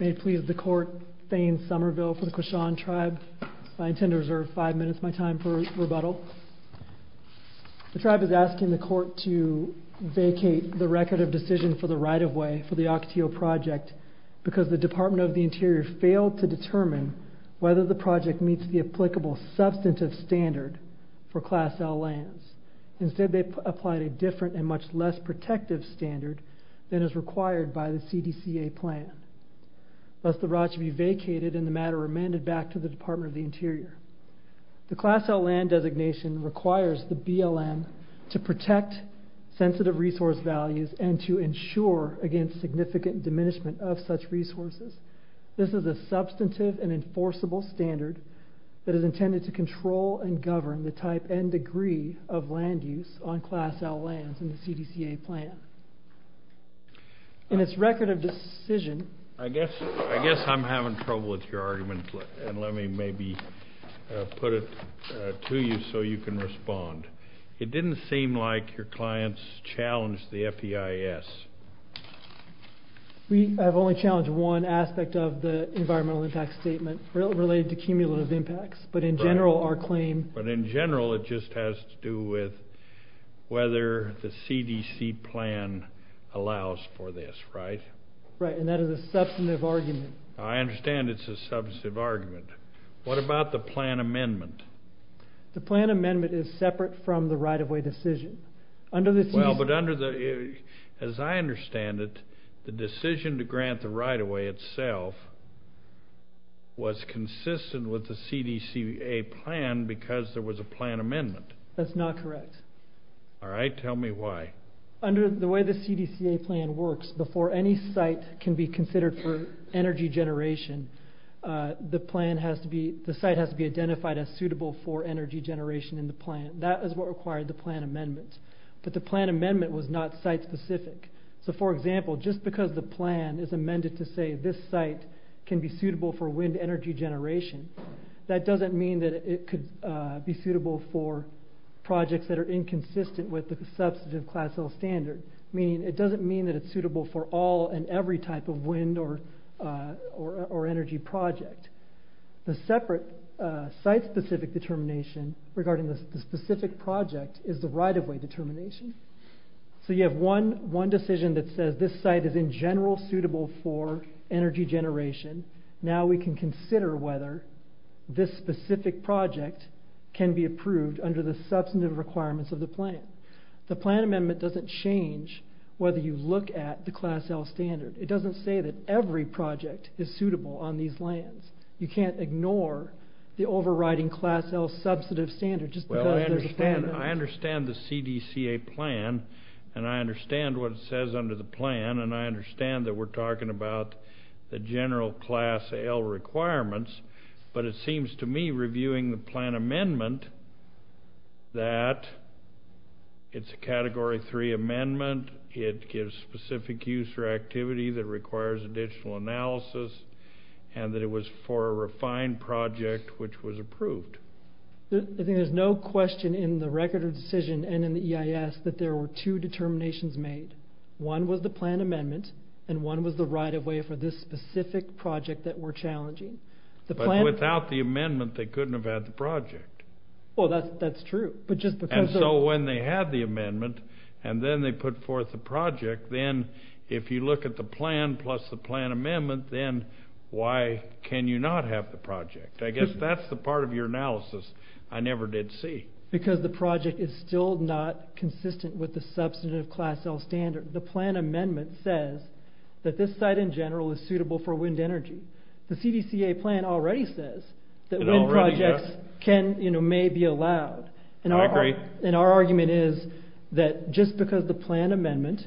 May it please the Court, Thayne Somerville for the Quachan Tribe. I intend to reserve five minutes of my time for rebuttal. The Tribe is asking the Court to vacate the record of decision for the right-of-way for the Ocotillo Project because the Department of the Interior failed to determine whether the project meets the applicable substantive standard for Class L lands. Instead, they applied a different and much less protective standard than is required by the CDCA plan. Thus, the right should be vacated and the matter remanded back to the Department of the Interior. The Class L land designation requires the BLM to protect sensitive resource values and to ensure against significant diminishment of such resources. This is a substantive and enforceable standard that is intended to control and govern the type and degree of land use on Class L lands in the CDCA plan. In its record of decision... I guess I'm having trouble with your argument, and let me maybe put it to you so you can respond. It didn't seem like your clients challenged the FEIS. We have only challenged one aspect of the environmental impact statement related to cumulative impacts, but in general, our claim... But in general, it just has to do with whether the CDC plan allows for this, right? Right, and that is a substantive argument. I understand it's a substantive argument. What about the plan amendment? The plan amendment is separate from the right-of-way decision. Under the... Well, but under the... As I understand it, the decision to grant the right-of-way itself was consistent with the CDCA plan because there was a plan amendment. That's not correct. All right, tell me why. Under the way the CDCA plan works, before any site can be considered for energy generation, the site has to be identified as suitable for energy generation in the plan. That is what required the plan amendment, but the plan amendment was not site-specific. So for example, just because the plan is amended to say this site can be suitable for wind energy generation, that doesn't mean that it could be suitable for projects that are inconsistent with the substantive class L standard, meaning it doesn't mean that it's suitable for all and every type of wind or energy project. The separate site-specific determination regarding the specific project is the right-of-way determination. So you have one decision that says this site is in general suitable for energy generation. Now we can consider whether this specific project can be approved under the substantive requirements of the plan. The plan amendment doesn't change whether you look at the class L standard. It doesn't say that every project is suitable on these lands. You can't ignore the overriding class L substantive standard just because there's a plan. I understand the CDCA plan, and I understand what it says under the plan, and I understand that we're talking about the general class L requirements, but it seems to me reviewing the plan amendment that it's a Category 3 amendment, it gives specific use or activity that requires additional analysis, and that it was for a refined project which was approved. I think there's no question in the Record of Decision and in the EIS that there were two determinations made. One was the plan amendment, and one was the right-of-way for this specific project that we're challenging. But without the amendment, they couldn't have had the project. Well, that's true. And so when they had the amendment, and then they put forth the project, then if you look at the plan plus the plan amendment, then why can you not have the project? I guess that's the part of your analysis I never did see. Because the project is still not consistent with the substantive class L standard. The plan amendment says that this site in general is suitable for wind energy. The CDCA plan already says that wind projects may be allowed. I agree. And our argument is that just because the plan amendment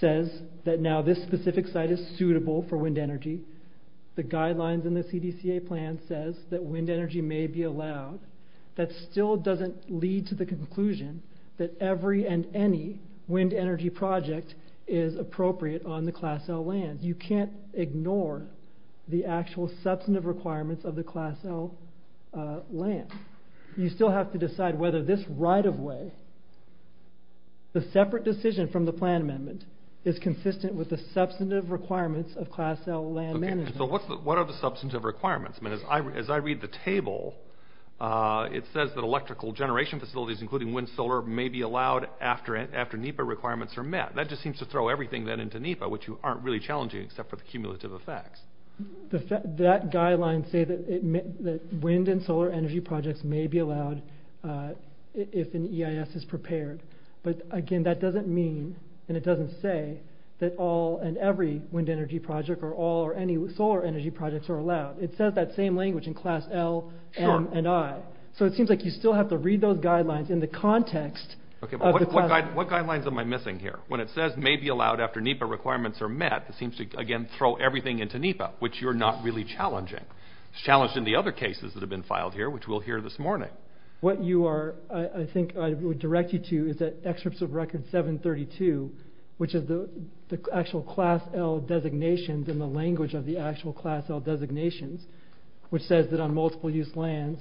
says that now this specific site is suitable for wind energy, the guidelines in the CDCA plan says that wind energy may be allowed, that still doesn't lead to the conclusion that every and any wind energy project is appropriate on the class L land. You can't ignore the actual substantive requirements of the class L land. You still have to decide whether this right-of-way, the separate decision from the plan amendment, is consistent with the substantive requirements of class L land management. What are the substantive requirements? As I read the table, it says that electrical generation facilities, including wind and solar, may be allowed after NEPA requirements are met. That just seems to throw everything then into NEPA, which aren't really challenging except for the cumulative effects. That guideline says that wind and solar energy projects may be allowed if an EIS is prepared. But again, that doesn't mean, and it doesn't say, that all and every wind energy project or all or any solar energy projects are allowed. It says that same language in class L, M, and I. So it seems like you still have to read those guidelines in the context of the class. What guidelines am I missing here? When it says may be allowed after NEPA requirements are met, it seems to again throw everything into NEPA, which you're not really challenging. It's challenging the other cases that have been filed here, which we'll hear this morning. What you are, I think I would direct you to, is that excerpt of record 732, which is the actual class L designations and the language of the actual class L designations, which says that on multiple-use lands,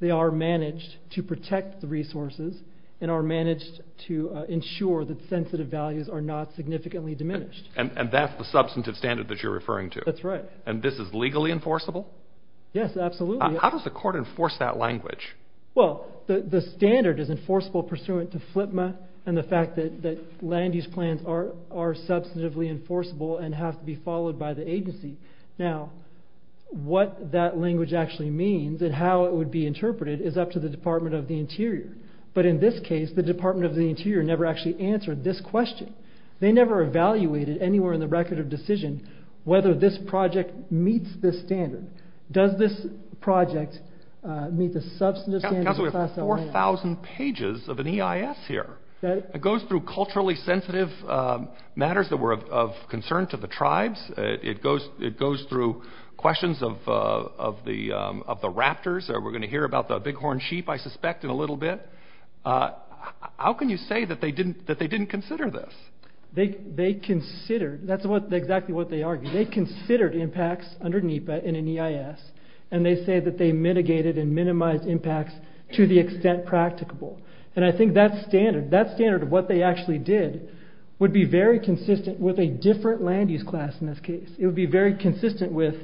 they are managed to protect the resources and are managed to ensure that sensitive values are not significantly diminished. And that's the substantive standard that you're referring to? That's right. And this is legally enforceable? Yes, absolutely. How does the court enforce that language? Well, the standard is enforceable pursuant to FLIPMA and the fact that land use plans are substantively enforceable and have to be followed by the agency. Now, what that language actually means and how it would be interpreted is up to the Department of the Interior. But in this case, the Department of the Interior never actually answered this or evaluated anywhere in the record of decision whether this project meets this standard. Does this project meet the substantive standard of class L? Counsel, we have 4,000 pages of an EIS here. It goes through culturally sensitive matters that were of concern to the tribes. It goes through questions of the raptors. We're going to hear about the bighorn sheep, I suspect, in a little bit. How can you say that they didn't consider this? They considered. That's exactly what they argued. They considered impacts under NEPA in an EIS, and they say that they mitigated and minimized impacts to the extent practicable. And I think that standard, that standard of what they actually did, would be very consistent with a different land use class in this case. It would be very consistent with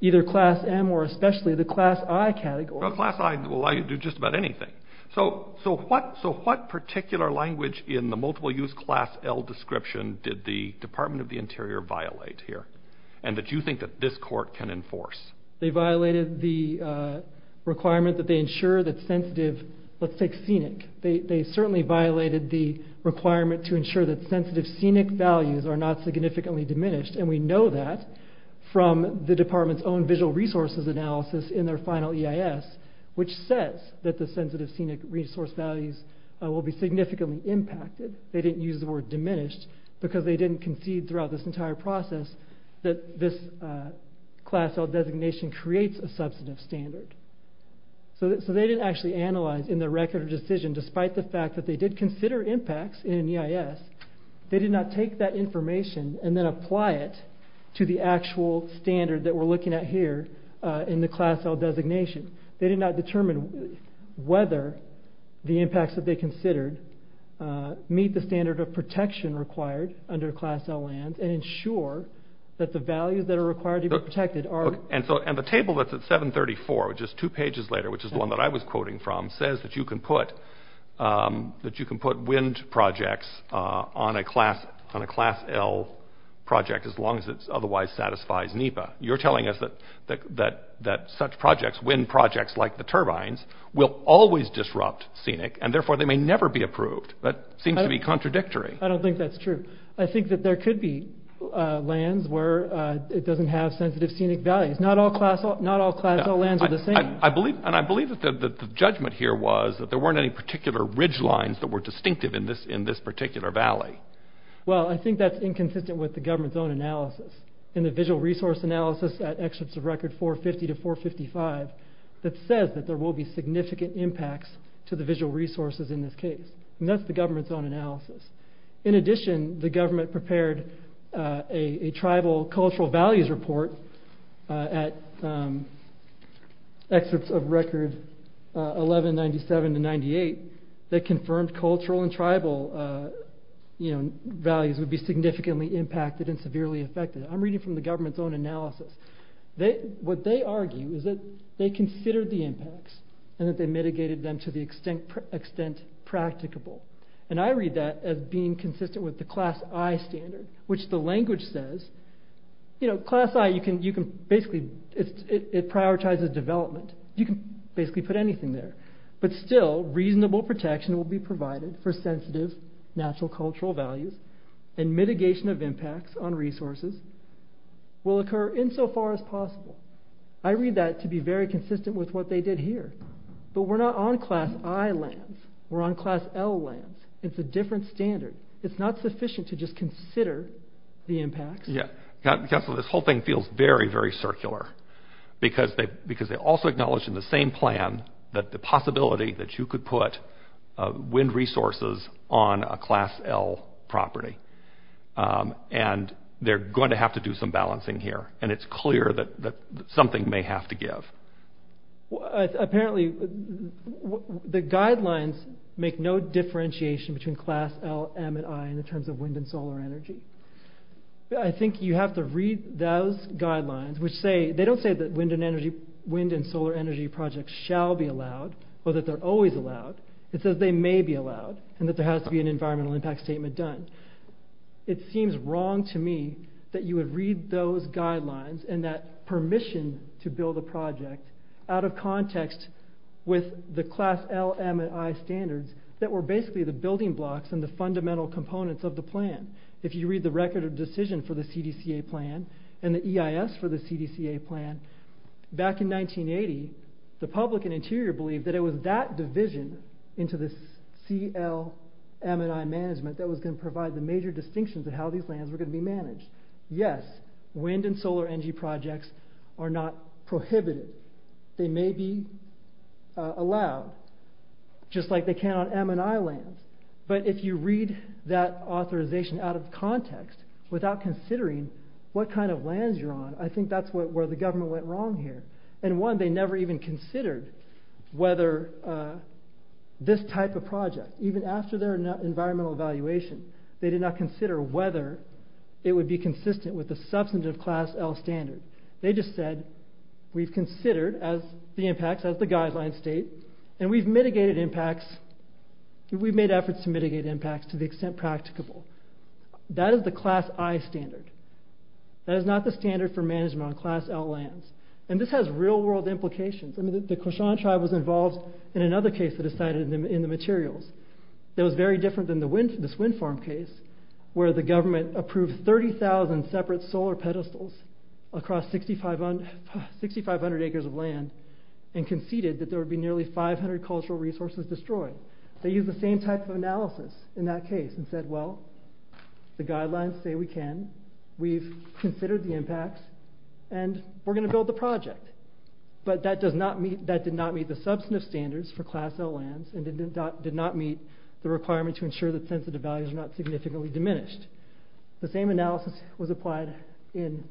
either class M or especially the class I category. Well, class I will allow you to do just about anything. So what particular language in the multiple use class L description did the Department of the Interior violate here, and that you think that this court can enforce? They violated the requirement that they ensure that sensitive, let's take scenic. They certainly violated the requirement to ensure that sensitive scenic values are not significantly diminished, and we know that from the department's own visual resources analysis in their final EIS, which says that the sensitive scenic resource values will be significantly impacted. They didn't use the word diminished because they didn't concede throughout this entire process that this class L designation creates a substantive standard. So they didn't actually analyze in the record decision, despite the fact that they did consider impacts in an EIS, they did not take that information and then apply it to the class L designation. They did not determine whether the impacts that they considered meet the standard of protection required under class L lands and ensure that the values that are required to be protected are... And the table that's at 734, which is two pages later, which is the one that I was quoting from, says that you can put wind projects on a class L project as long as it otherwise satisfies NEPA. You're telling us that such projects, wind projects like the turbines, will always disrupt scenic, and therefore they may never be approved. That seems to be contradictory. I don't think that's true. I think that there could be lands where it doesn't have sensitive scenic values. Not all class L lands are the same. And I believe that the judgment here was that there weren't any particular ridgelines that were distinctive in this particular valley. Well, I think that's inconsistent with the government's own analysis. In the visual resource analysis at exits of record 450 to 455, that says that there will be significant impacts to the visual resources in this case. And that's the government's own analysis. In addition, the government prepared a tribal cultural values report at exits of record 1197 to 98 that confirmed cultural and tribal values would be significantly impacted and severely affected. I'm reading from the government's own analysis. What they argue is that they considered the impacts and that they mitigated them to the extent practicable. And I read that as being consistent with the class I standard, which the language says, you know, class I, you can basically, it prioritizes development. You can basically put anything there. But still, reasonable protection will be provided for sensitive natural cultural values and mitigation of impacts on resources will occur insofar as possible. I read that to be very consistent with what they did here, but we're not on class I lands, we're on class L lands. It's a different standard. It's not sufficient to just consider the impacts. Yeah. Council, this whole thing feels very, very circular because they also acknowledged in the same plan that the possibility that you could put wind resources on a class L property. And they're going to have to do some balancing here. And it's clear that something may have to give. Apparently the guidelines make no differentiation between class L, M and I in terms of wind and solar energy. I think you have to read those guidelines, which say, they don't say that wind and energy, wind and solar energy projects shall be allowed or that they're always allowed and that there has to be an environmental impact statement done. It seems wrong to me that you would read those guidelines and that permission to build a project out of context with the class L, M and I standards that were basically the building blocks and the fundamental components of the plan. If you read the record of decision for the CDCA plan and the EIS for the CDCA plan, back in 1980, the public and interior believed that it was that division into the CL, M and I management that was going to provide the major distinctions of how these lands were going to be managed. Yes, wind and solar energy projects are not prohibited. They may be allowed just like they can on M and I lands. But if you read that authorization out of context without considering what kind of lands you're on, I think that's where the government went wrong here. And one, they never even considered whether this type of project, even after their environmental evaluation, they did not consider whether it would be consistent with the substantive class L standard. They just said, we've considered the impacts as the guideline state and we've mitigated impacts, we've made efforts to mitigate impacts to the extent practicable. That is the class I standard. That is not the standard for management on class L lands. And this has real world implications. I mean, the Koshan tribe was involved in another case that is cited in the materials that was very different than this wind farm case where the government approved 30,000 separate solar pedestals across 6,500 acres of land and conceded that there would be nearly 500 cultural resources destroyed. They used the same type of analysis in that case and said, well, the guidelines say we can, we've considered the impacts and we're going to build the project, but that does not meet, that did not meet the substantive standards for class L lands and did not meet the requirement to ensure that sensitive values are not significantly diminished. The same analysis was applied in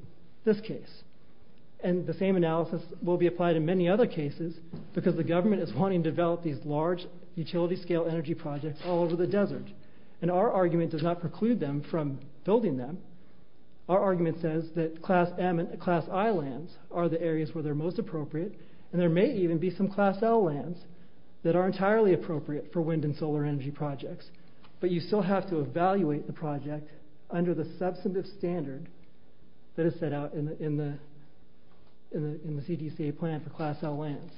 this case. And the same analysis will be applied in many other cases because the government is wanting to develop these large utility scale energy projects all over the desert. And our argument does not preclude them from building them. Our argument says that class M and class I lands are the areas where they're most appropriate, and there may even be some class L lands that are entirely appropriate for wind and solar energy projects, but you still have to evaluate the project under the substantive standard that is set out in the, in the, in the, in the CDC plan for class L lands.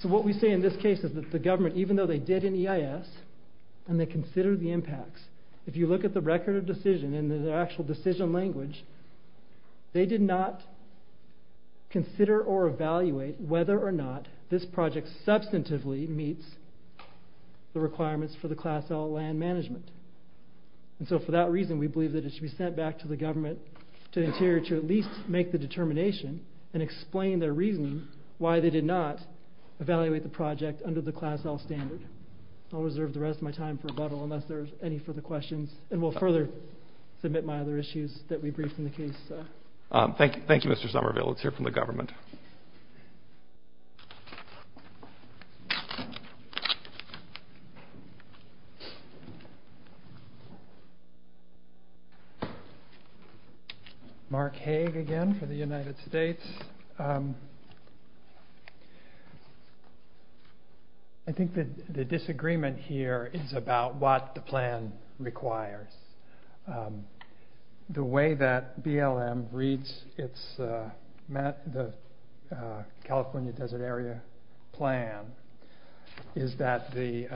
So what we say in this case is that the government, even though they did an EIS and they considered the impacts, if you look at the record of decision and the actual decision language, they did not consider or evaluate whether or not this project substantively meets the requirements for the class L land management. And so for that reason, we believe that it should be sent back to the government, to Interior to at least make the determination and explain their reasoning why they did not evaluate the project under the class L standard. I'll reserve the rest of my time for rebuttal unless there's any further questions and we'll further submit my other issues that we briefed in the case. Thank you. Thank you, Mr. Somerville. Let's hear from the government. Mark Hague again for the United States. I think that the disagreement here is about what the plan requires the way that BLM reads it's, the California desert area plan is that the,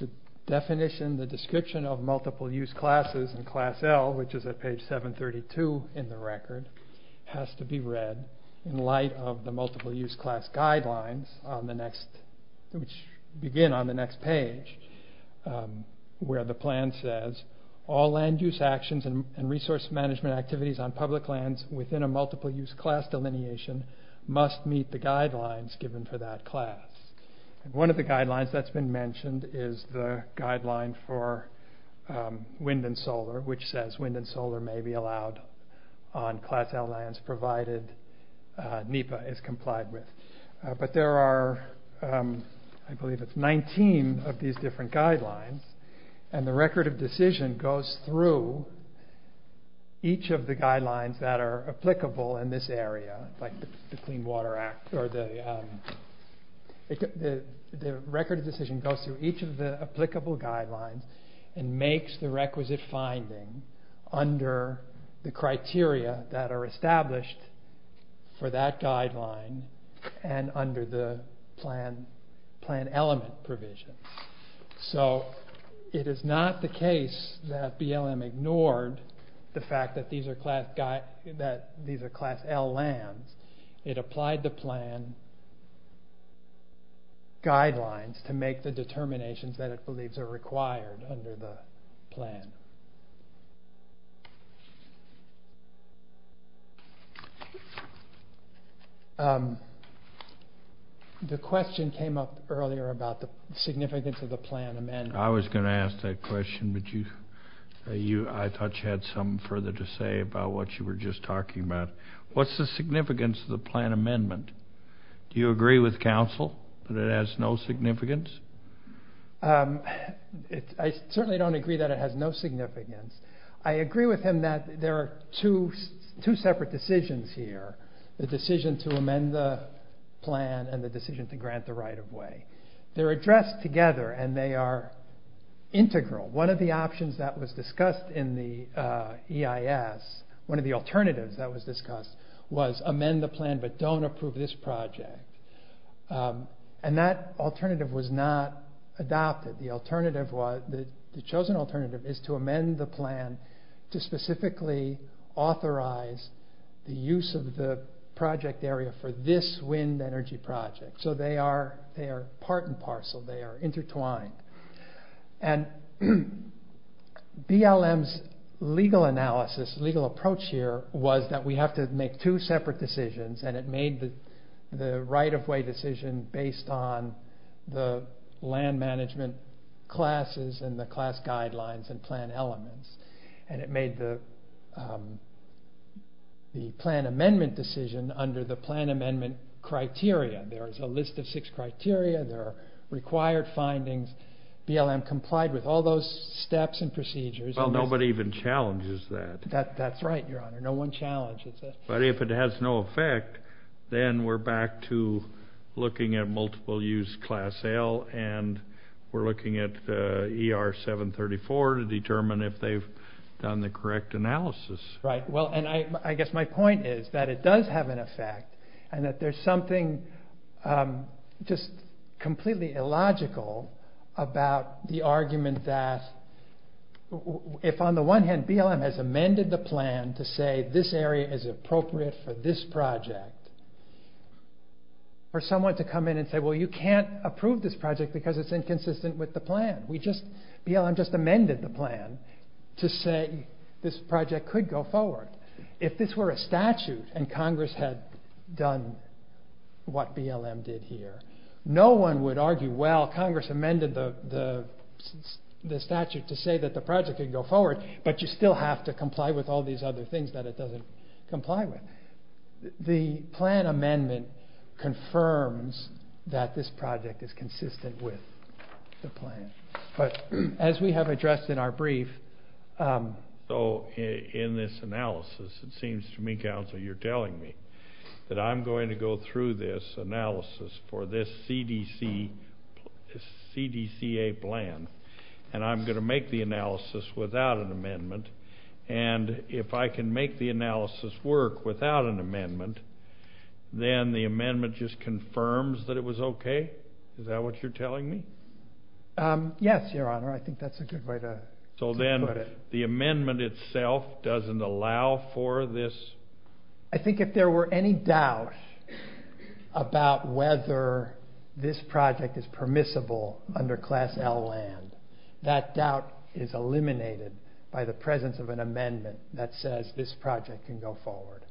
the definition, the description of multiple use classes and class L, which is at has to be read in light of the multiple use class guidelines on the next, which begin on the next page where the plan says all land use actions and resource management activities on public lands within a multiple use class delineation must meet the guidelines given for that class. And one of the guidelines that's been mentioned is the guideline for wind and solar, which says wind and solar may be allowed on class L lands, provided NEPA is complied with. But there are, I believe it's 19 of these different guidelines and the record of decision goes through each of the guidelines that are applicable in this area, like the clean water act or the record of decision goes through each of the applicable guidelines and makes the requisite finding under the criteria that are established for that guideline and under the plan, plan element provision. So it is not the case that BLM ignored the fact that these are class, that these are class L lands. It applied the plan guidelines to make the determinations that it believes are required under the plan. The question came up earlier about the significance of the plan amendment. I was going to ask that question, but you, I thought you had some further to say about what you were just talking about. What's the significance of the plan amendment? Do you agree with council that it has no significance? I certainly don't agree that it has no significance. I agree with him that there are two separate decisions here, the decision to amend the plan and the decision to grant the right of way. They're addressed together and they are integral. One of the options that was discussed in the EIS, one of the alternatives that was discussed was amend the plan, but don't approve this project. And that alternative was not adopted. The alternative was, the chosen alternative is to amend the plan to specifically authorize the use of the project area for this wind energy project. So they are part and parcel, they are intertwined. And BLM's legal analysis, legal approach here was that we have to make two separate decisions and it made the right of way decision based on the land management classes and the class guidelines and plan elements. And it made the plan amendment decision under the plan amendment criteria. There is a list of six criteria. There are required findings. BLM complied with all those steps and procedures. Well, nobody even challenges that. That's right, your honor. No one challenges it. But if it has no effect, then we're back to looking at multiple use class L and we're looking at ER 734 to determine if they've done the correct analysis. Right. Well, and I guess my point is that it does have an effect and that there's something just completely illogical about the argument that if on the one hand BLM has amended the plan to say this area is appropriate for this project, for someone to come in and say, well, you can't approve this project because it's inconsistent with the plan. We just, BLM just amended the plan to say this project could go forward. If this were a statute and Congress had done what BLM did here, no one would argue, well, Congress amended the statute to say that the project could go forward, but you still have to comply with all these other things that it doesn't comply with. The plan amendment confirms that this project is consistent with the plan. But as we have addressed in our brief. So in this analysis, it seems to me, counsel, you're telling me that I'm going to go through this analysis for this CDC, this CDCA plan, and I'm going to make the analysis without an amendment. And if I can make the analysis work without an amendment, then the amendment just confirms that it was okay. Is that what you're telling me? Yes, your honor. I think that's a good way to put it. The amendment itself doesn't allow for this? I think if there were any doubt about whether this project is permissible under class L land, that doubt is eliminated by the presence of an amendment that says this project can go forward.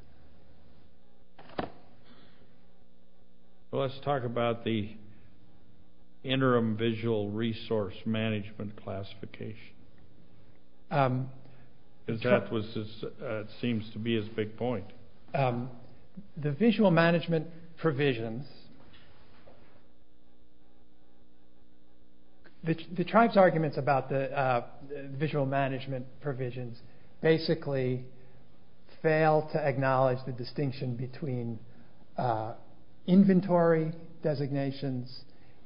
Well, let's talk about the interim visual resource management classification. That seems to be his big point. The visual management provisions, the tribe's arguments about the visual knowledge, the distinction between inventory designations,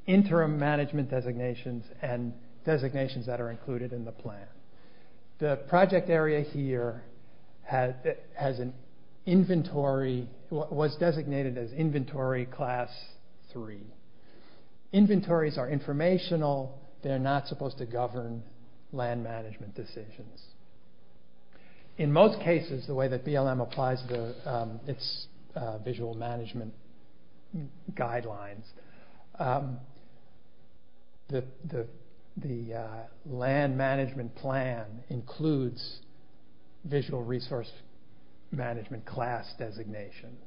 interim management designations, and designations that are included in the plan. The project area here has an inventory, was designated as inventory class three. Inventories are informational. They're not supposed to govern land management decisions. In most cases, the way that BLM applies its visual management guidelines, the land management plan includes visual resource management class designations.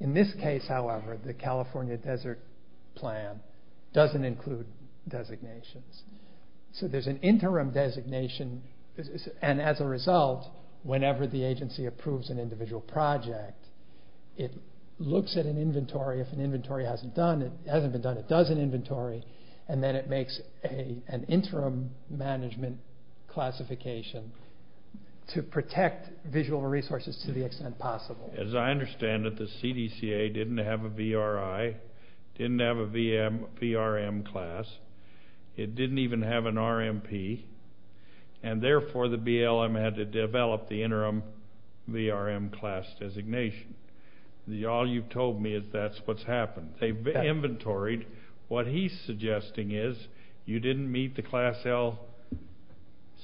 In this case, however, the California desert plan doesn't include designations. So there's an interim designation, and as a result, whenever the agency approves an individual project, it looks at an inventory, if an inventory hasn't done, it hasn't been done, it does an inventory, and then it makes an interim management classification to protect visual resources to the extent possible. As I understand it, the CDCA didn't have a VRI, didn't have a VRM class. It didn't even have an RMP, and therefore the BLM had to develop the interim VRM class designation. All you've told me is that's what's happened. They've inventoried. What he's suggesting is you didn't meet the class L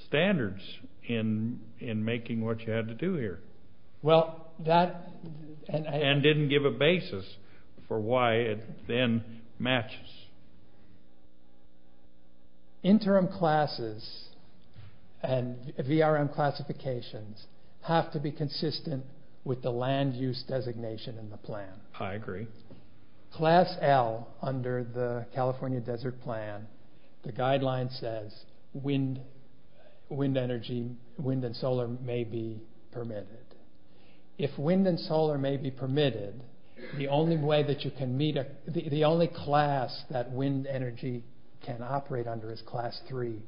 standards in making what you had to do here. Well, that... And didn't give a basis for why it then matches. Interim classes and VRM classifications have to be consistent with the land use designation in the plan. I agree. Class L under the California desert plan, the guideline says wind, wind energy, wind and solar may be permitted. If wind and solar may be permitted, the only way that you can meet, the only class that wind energy can operate under is class three,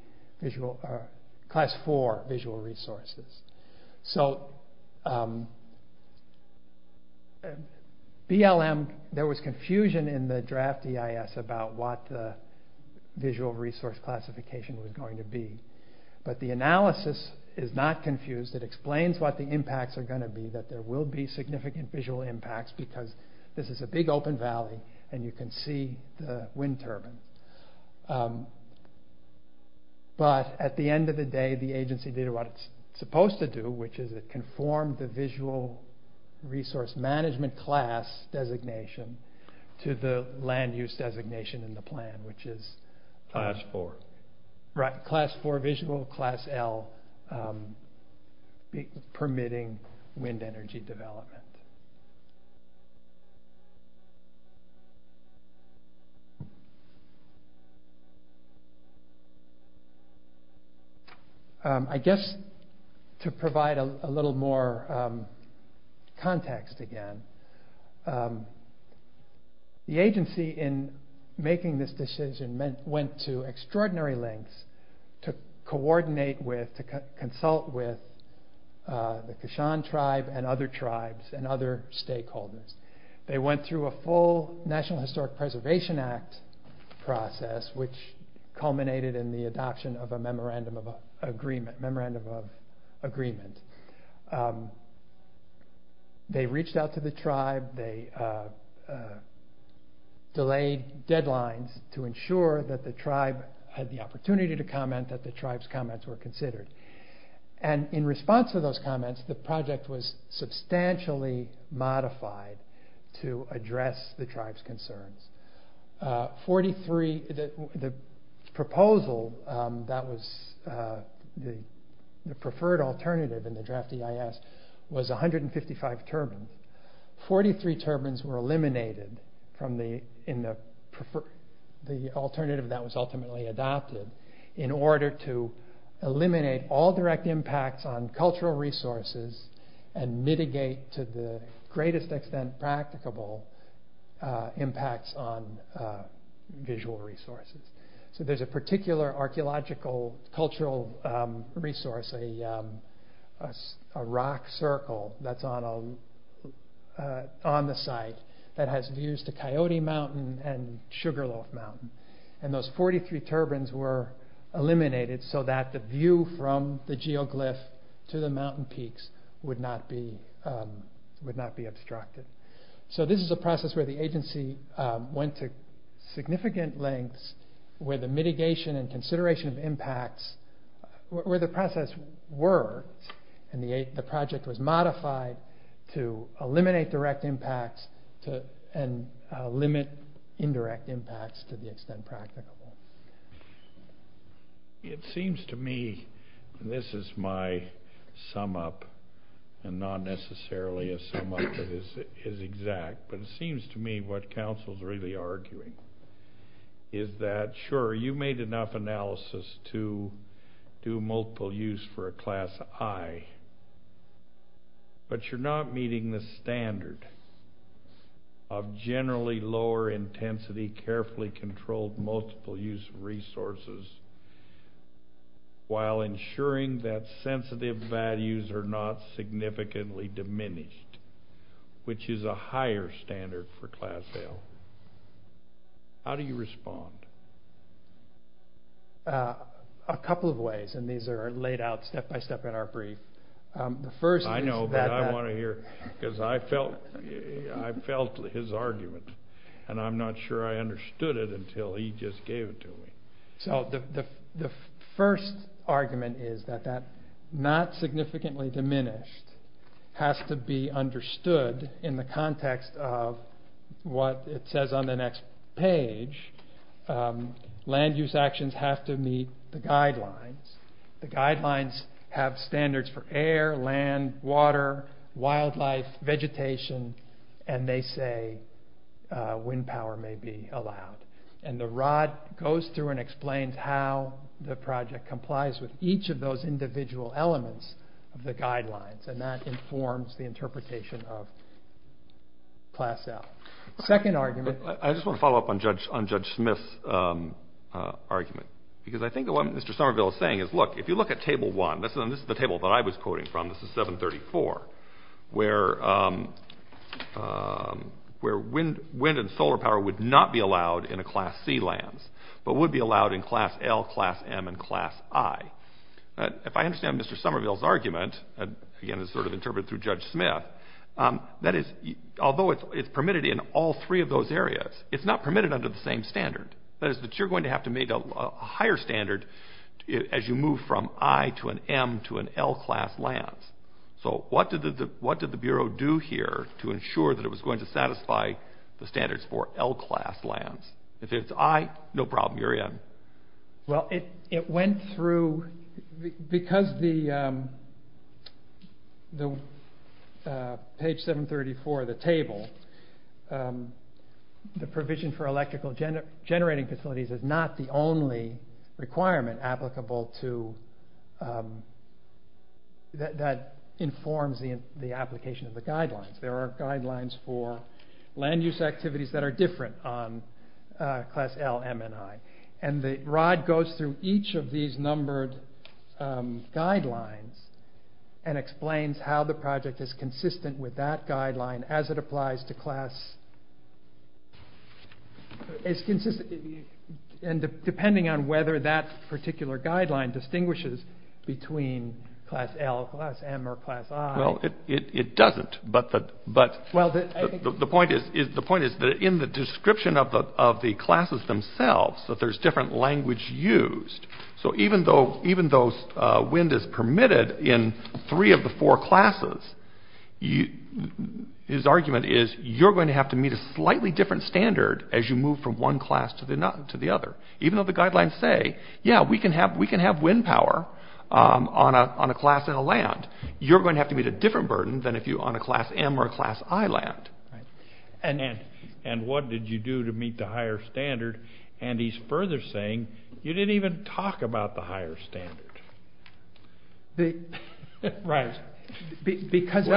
visual, or class four visual resources. So BLM, there was confusion in the draft EIS about what the visual resource classification was going to be. But the analysis is not confused. It explains what the impacts are going to be, that there will be significant visual impacts because this is a big open valley and you can see the wind turbine. But at the end of the day, the agency did what it's supposed to do, which is it conformed the visual resource management class designation to the land use designation in the plan, which is... Class four. Right. Class four visual, class L permitting wind energy development. I guess to provide a little more context again, the agency in making this decision went to extraordinary lengths to coordinate with, to consult with the stakeholders. They went through a full National Historic Preservation Act process, which culminated in the adoption of a memorandum of agreement. They reached out to the tribe, they delayed deadlines to ensure that the tribe had the opportunity to comment, that the tribe's comments were considered. And in response to those comments, the project was substantially modified to address the tribe's concerns. 43, the proposal that was the preferred alternative in the draft EIS was 155 turbines. 43 turbines were eliminated from the alternative that was ultimately adopted in order to eliminate all direct impacts on cultural resources and mitigate to the greatest extent practicable impacts on visual resources. So there's a particular archeological cultural resource, a rock circle that's on the site that has views to Coyote Mountain and Sugarloaf Mountain. And those 43 turbines were eliminated so that the view from the geoglyph to the mountain peaks would not be obstructed. So this is a process where the agency went to significant lengths where the mitigation and consideration of impacts, where the process worked and the project was modified to eliminate direct impacts and limit indirect impacts to the extent practicable. It seems to me, and this is my sum up and not necessarily a sum up that is exact, but it seems to me what council's really arguing is that, sure, you made enough analysis to do multiple use for a class I, but you're not meeting the controlled multiple use resources while ensuring that sensitive values are not significantly diminished, which is a higher standard for class L. How do you respond? A couple of ways, and these are laid out step by step in our brief. The first is that... I know, but I want to hear, because I felt his argument and I'm not sure I feel he just gave it to me. So the first argument is that that not significantly diminished has to be understood in the context of what it says on the next page, land use actions have to meet the guidelines. The guidelines have standards for air, land, water, wildlife, vegetation, and they say wind power may be allowed. And the rod goes through and explains how the project complies with each of those individual elements of the guidelines. And that informs the interpretation of class L. Second argument... I just want to follow up on Judge Smith's argument, because I think what Mr. Somerville is saying is, look, if you look at table one, this is the table that I was talking about, that would not be allowed in a class C lands, but would be allowed in class L, class M, and class I. If I understand Mr. Somerville's argument, again, it's sort of interpreted through Judge Smith, that is, although it's permitted in all three of those areas, it's not permitted under the same standard. That is that you're going to have to make a higher standard as you move from I to an M to an L class lands. So what did the Bureau do here to ensure that it was going to satisfy the requirements of class I, class M, and class I class lands? If it's I, no problem, you're in. Well, it went through... Because the page 734 of the table, the provision for electrical generating facilities is not the only requirement applicable to... that informs the application of the guidelines. There are guidelines for land use activities that are different on class L, M, and I. And the rod goes through each of these numbered guidelines and explains how the project is consistent with that guideline as it applies to class... It's consistent... And depending on whether that particular guideline distinguishes between class L, class M, or class I... Well, it doesn't, but the point is that in the description of the classes themselves, that there's different language used. So even though wind is permitted in three of the four classes, his argument is you're going to have to meet a slightly different standard as you move from one class to the other. Even though the guidelines say, yeah, we can have wind power on a class and a different burden than if you're on a class M or a class I land. And what did you do to meet the higher standard? And he's further saying, you didn't even talk about the higher standard. Right. Because...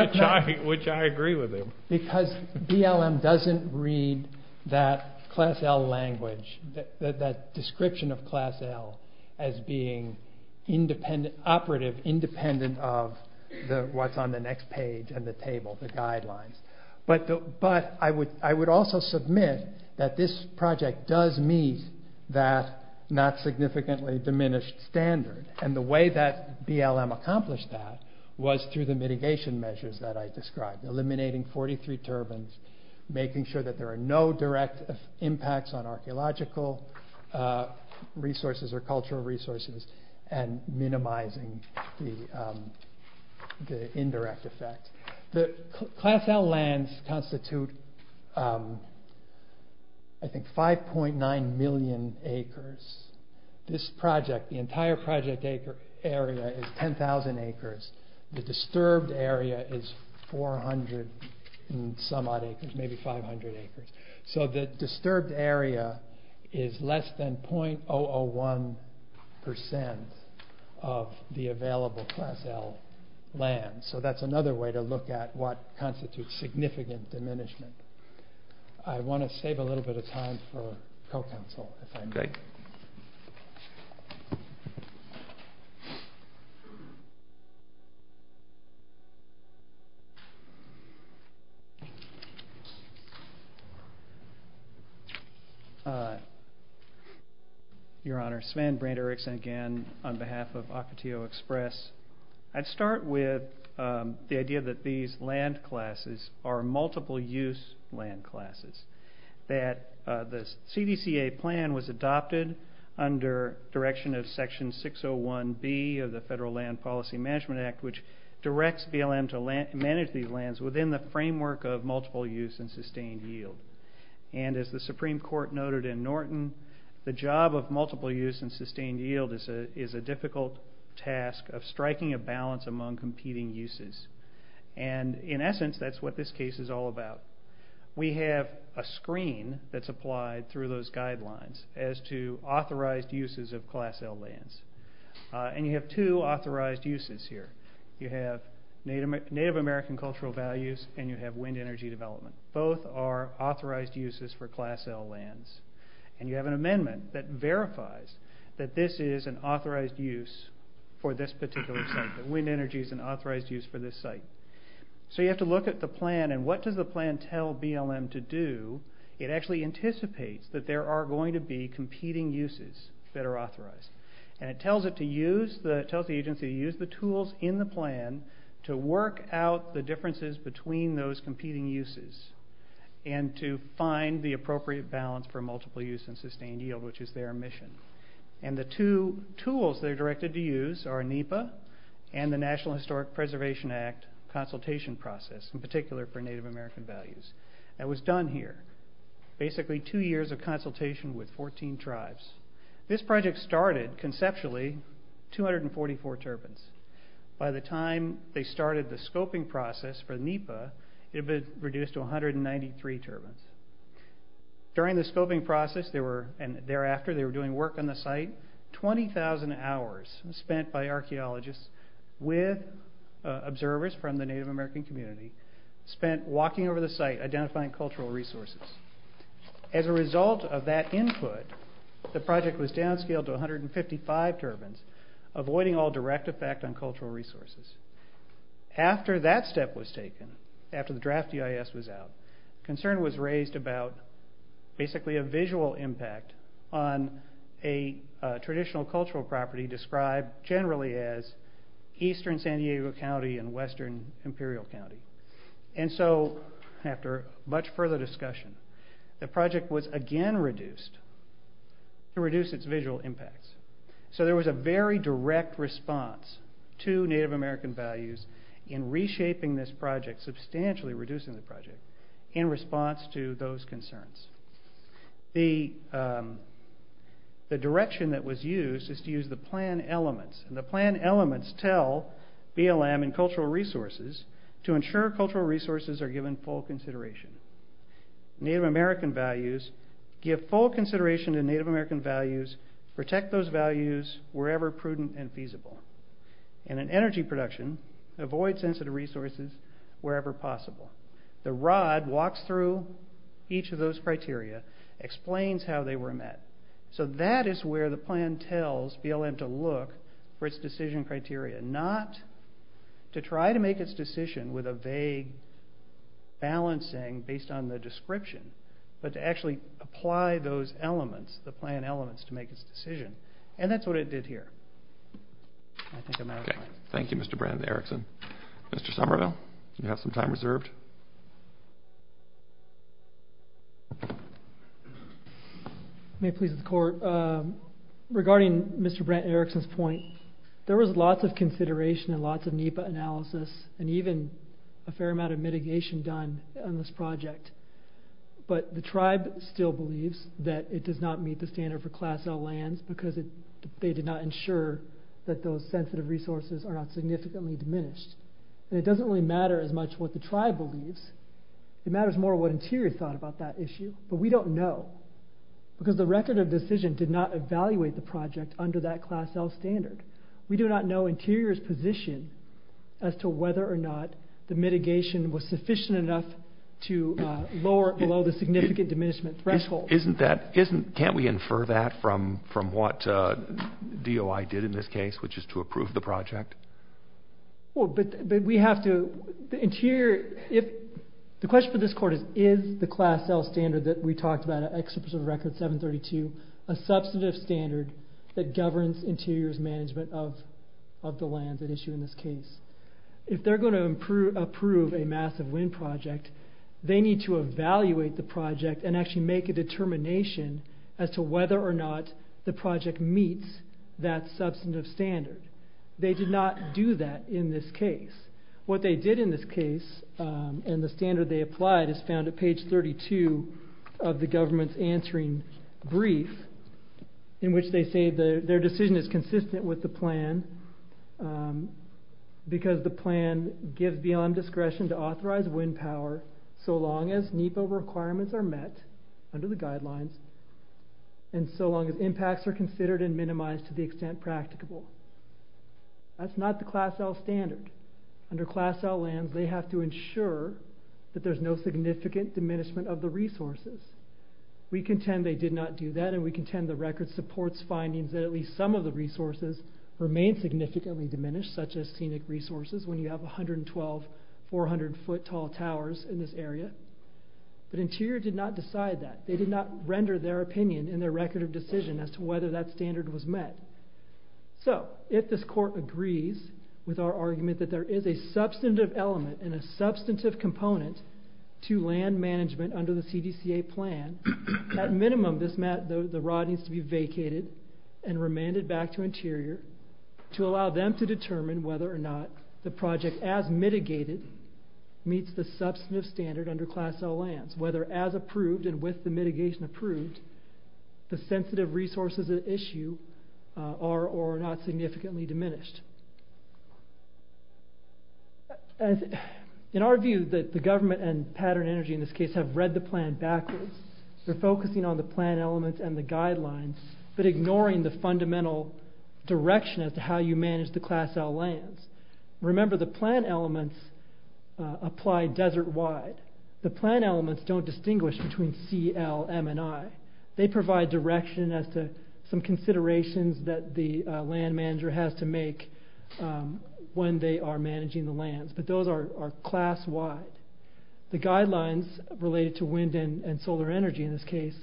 Which I agree with him. Because BLM doesn't read that class L language, that description of class L as being operative independent of what's on the next page and the table, the guidelines. But I would also submit that this project does meet that not significantly diminished standard. And the way that BLM accomplished that was through the mitigation measures that I described. Eliminating 43 turbines, making sure that there are no direct impacts on resources or cultural resources and minimizing the indirect effect. The class L lands constitute, I think 5.9 million acres. This project, the entire project acre area is 10,000 acres. The disturbed area is 400 and some odd acres, maybe 500 acres. So the disturbed area is less than 0.001% of the available class L land. So that's another way to look at what constitutes significant diminishment. I want to save a little bit of time for co-counsel, if I may. Your Honor, Sven Branderickson again on behalf of Ocotillo Express. I'd start with the idea that these land classes are multiple use land classes. That the CDCA plan was adopted under direction of Section 601B of the Federal Land Policy Management Act, which directs BLM to manage these lands within the framework of multiple use and sustained yield. And as the Supreme Court noted in Norton, the job of multiple use and sustained yield is a difficult task of striking a balance among competing uses. And in essence, that's what this case is all about. We have a screen that's applied through those guidelines as to authorized uses of class L lands. And you have two authorized uses here. You have Native American cultural values and you have wind energy development. Both are authorized uses for class L lands. And you have an amendment that verifies that this is an authorized use for this particular site. That wind energy is an authorized use for this site. So you have to look at the plan and what does the plan tell BLM to do? It actually anticipates that there are going to be competing uses that are authorized and it tells the agency to use the tools in the plan to work out the and to find the appropriate balance for multiple use and sustained yield, which is their mission. And the two tools that are directed to use are NEPA and the National Historic Preservation Act consultation process, in particular for Native American values. That was done here. Basically two years of consultation with 14 tribes. This project started conceptually 244 turbines. By the time they started the scoping process for NEPA, it had been reduced to 193 turbines. During the scoping process, there were, and thereafter they were doing work on the site, 20,000 hours spent by archeologists with observers from the Native American community spent walking over the site, identifying cultural resources. As a result of that input, the project was downscaled to 155 turbines, avoiding all direct effect on cultural resources. After that step was taken, after the draft EIS was out, concern was raised about basically a visual impact on a traditional cultural property described generally as Eastern San Diego County and Western Imperial County. And so after much further discussion, the project was again reduced to reduce its visual impacts. So there was a very direct response to Native American values in reshaping this project, substantially reducing the project in response to those concerns. The direction that was used is to use the plan elements and the plan elements tell BLM and cultural resources to ensure cultural resources are given full consideration. Native American values give full consideration to Native American values, protect those values wherever prudent and feasible. And in energy production, avoid sensitive resources wherever possible. The ROD walks through each of those criteria, explains how they were met. So that is where the plan tells BLM to look for its decision criteria, not to try to make its decision with a vague balancing based on the description, but to actually apply those elements, the plan elements to make its decision. And that's what it did here. I think I'm out of time. Okay. Thank you, Mr. Brant Erickson. Mr. Somerville, you have some time reserved. May it please the court. Regarding Mr. Brant Erickson's point, there was lots of consideration and lots of NEPA analysis and even a fair amount of mitigation done on this project. But the tribe still believes that it does not meet the standard for class L lands because they did not ensure that those sensitive resources are not significantly diminished. And it doesn't really matter as much what the tribe believes. It matters more what Interior thought about that issue. But we don't know because the record of decision did not evaluate the project under that class L standard. We do not know Interior's position as to whether or not the mitigation was lower below the significant diminishment threshold. Can't we infer that from what DOI did in this case, which is to approve the project? Well, but we have to... The question for this court is, is the class L standard that we talked about, an extra pursuit of record 732, a substantive standard that governs Interior's management of the lands at issue in this case? If they're going to approve a massive wind project, they need to evaluate the project and actually make a determination as to whether or not the project meets that substantive standard. They did not do that in this case. What they did in this case and the standard they applied is found at page 32 of the government's answering brief in which they say their decision is because the plan gives BLM discretion to authorize wind power so long as NEPA requirements are met under the guidelines and so long as impacts are considered and minimized to the extent practicable. That's not the class L standard. Under class L lands, they have to ensure that there's no significant diminishment of the resources. We contend they did not do that and we contend the record supports findings that at least some of the resources remain significantly diminished, such as resources when you have 112, 400 foot tall towers in this area, but Interior did not decide that. They did not render their opinion in their record of decision as to whether that standard was met. If this court agrees with our argument that there is a substantive element and a substantive component to land management under the CDCA plan, at minimum, the rod needs to be vacated and remanded back to Interior to allow them to the project as mitigated meets the substantive standard under class L lands, whether as approved and with the mitigation approved, the sensitive resources at issue are or are not significantly diminished. In our view, the government and Pattern Energy in this case have read the plan backwards. They're focusing on the plan elements and the guidelines, but ignoring the fundamental direction as to how you manage the class L lands. Remember the plan elements apply desert wide. The plan elements don't distinguish between CL, M and I. They provide direction as to some considerations that the land manager has to make when they are managing the lands, but those are class wide. The guidelines related to wind and solar energy in this case,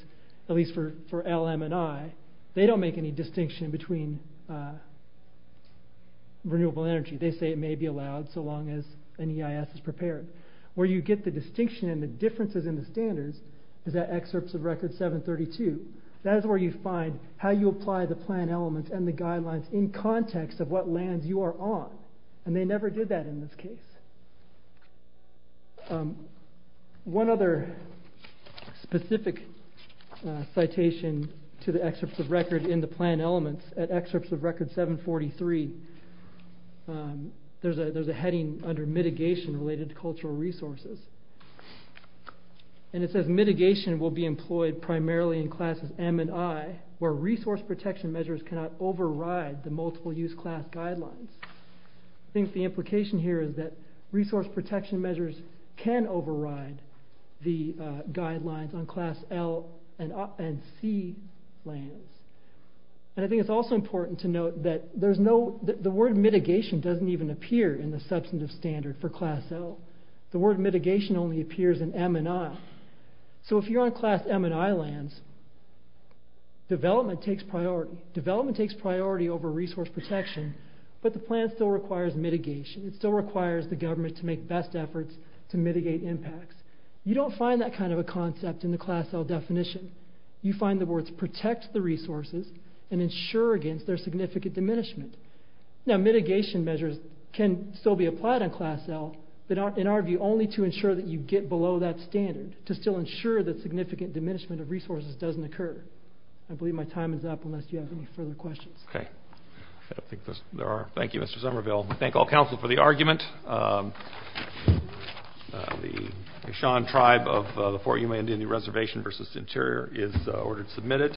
at least for L, M and I, they don't make any distinction between renewable energy. They say it may be allowed so long as an EIS is prepared. Where you get the distinction and the differences in the standards is that excerpts of record 732. That is where you find how you apply the plan elements and the guidelines in context of what lands you are on, and they never did that in this case. One other specific citation to the excerpts of record in the plan elements at excerpts of record 743, there's a heading under mitigation related to cultural resources, and it says mitigation will be employed primarily in classes M and I, where resource protection measures cannot override the multiple use class guidelines. I think the implication here is that resource protection measures can override the guidelines on class L and C lands. I think it's also important to note that the word mitigation doesn't even appear in the substantive standard for class L. The word mitigation only appears in M and I, so if you're on class M and I lands, development takes priority over resource protection, but the plan still requires mitigation. It still requires the government to make best efforts to mitigate impacts. You don't find that kind of a concept in the class L definition. You find the words protect the resources and ensure against their significant diminishment. Now, mitigation measures can still be applied on class L, but in our view, only to ensure that you get below that standard, to still ensure that significant diminishment of resources doesn't occur. I believe my time is up, unless you have any further questions. Okay. I don't think there are. Thank you, Mr. Somerville. I thank all council for the argument. The Eshan tribe of the Fort Yuma Indian Reservation versus the interior is ordered to submit it.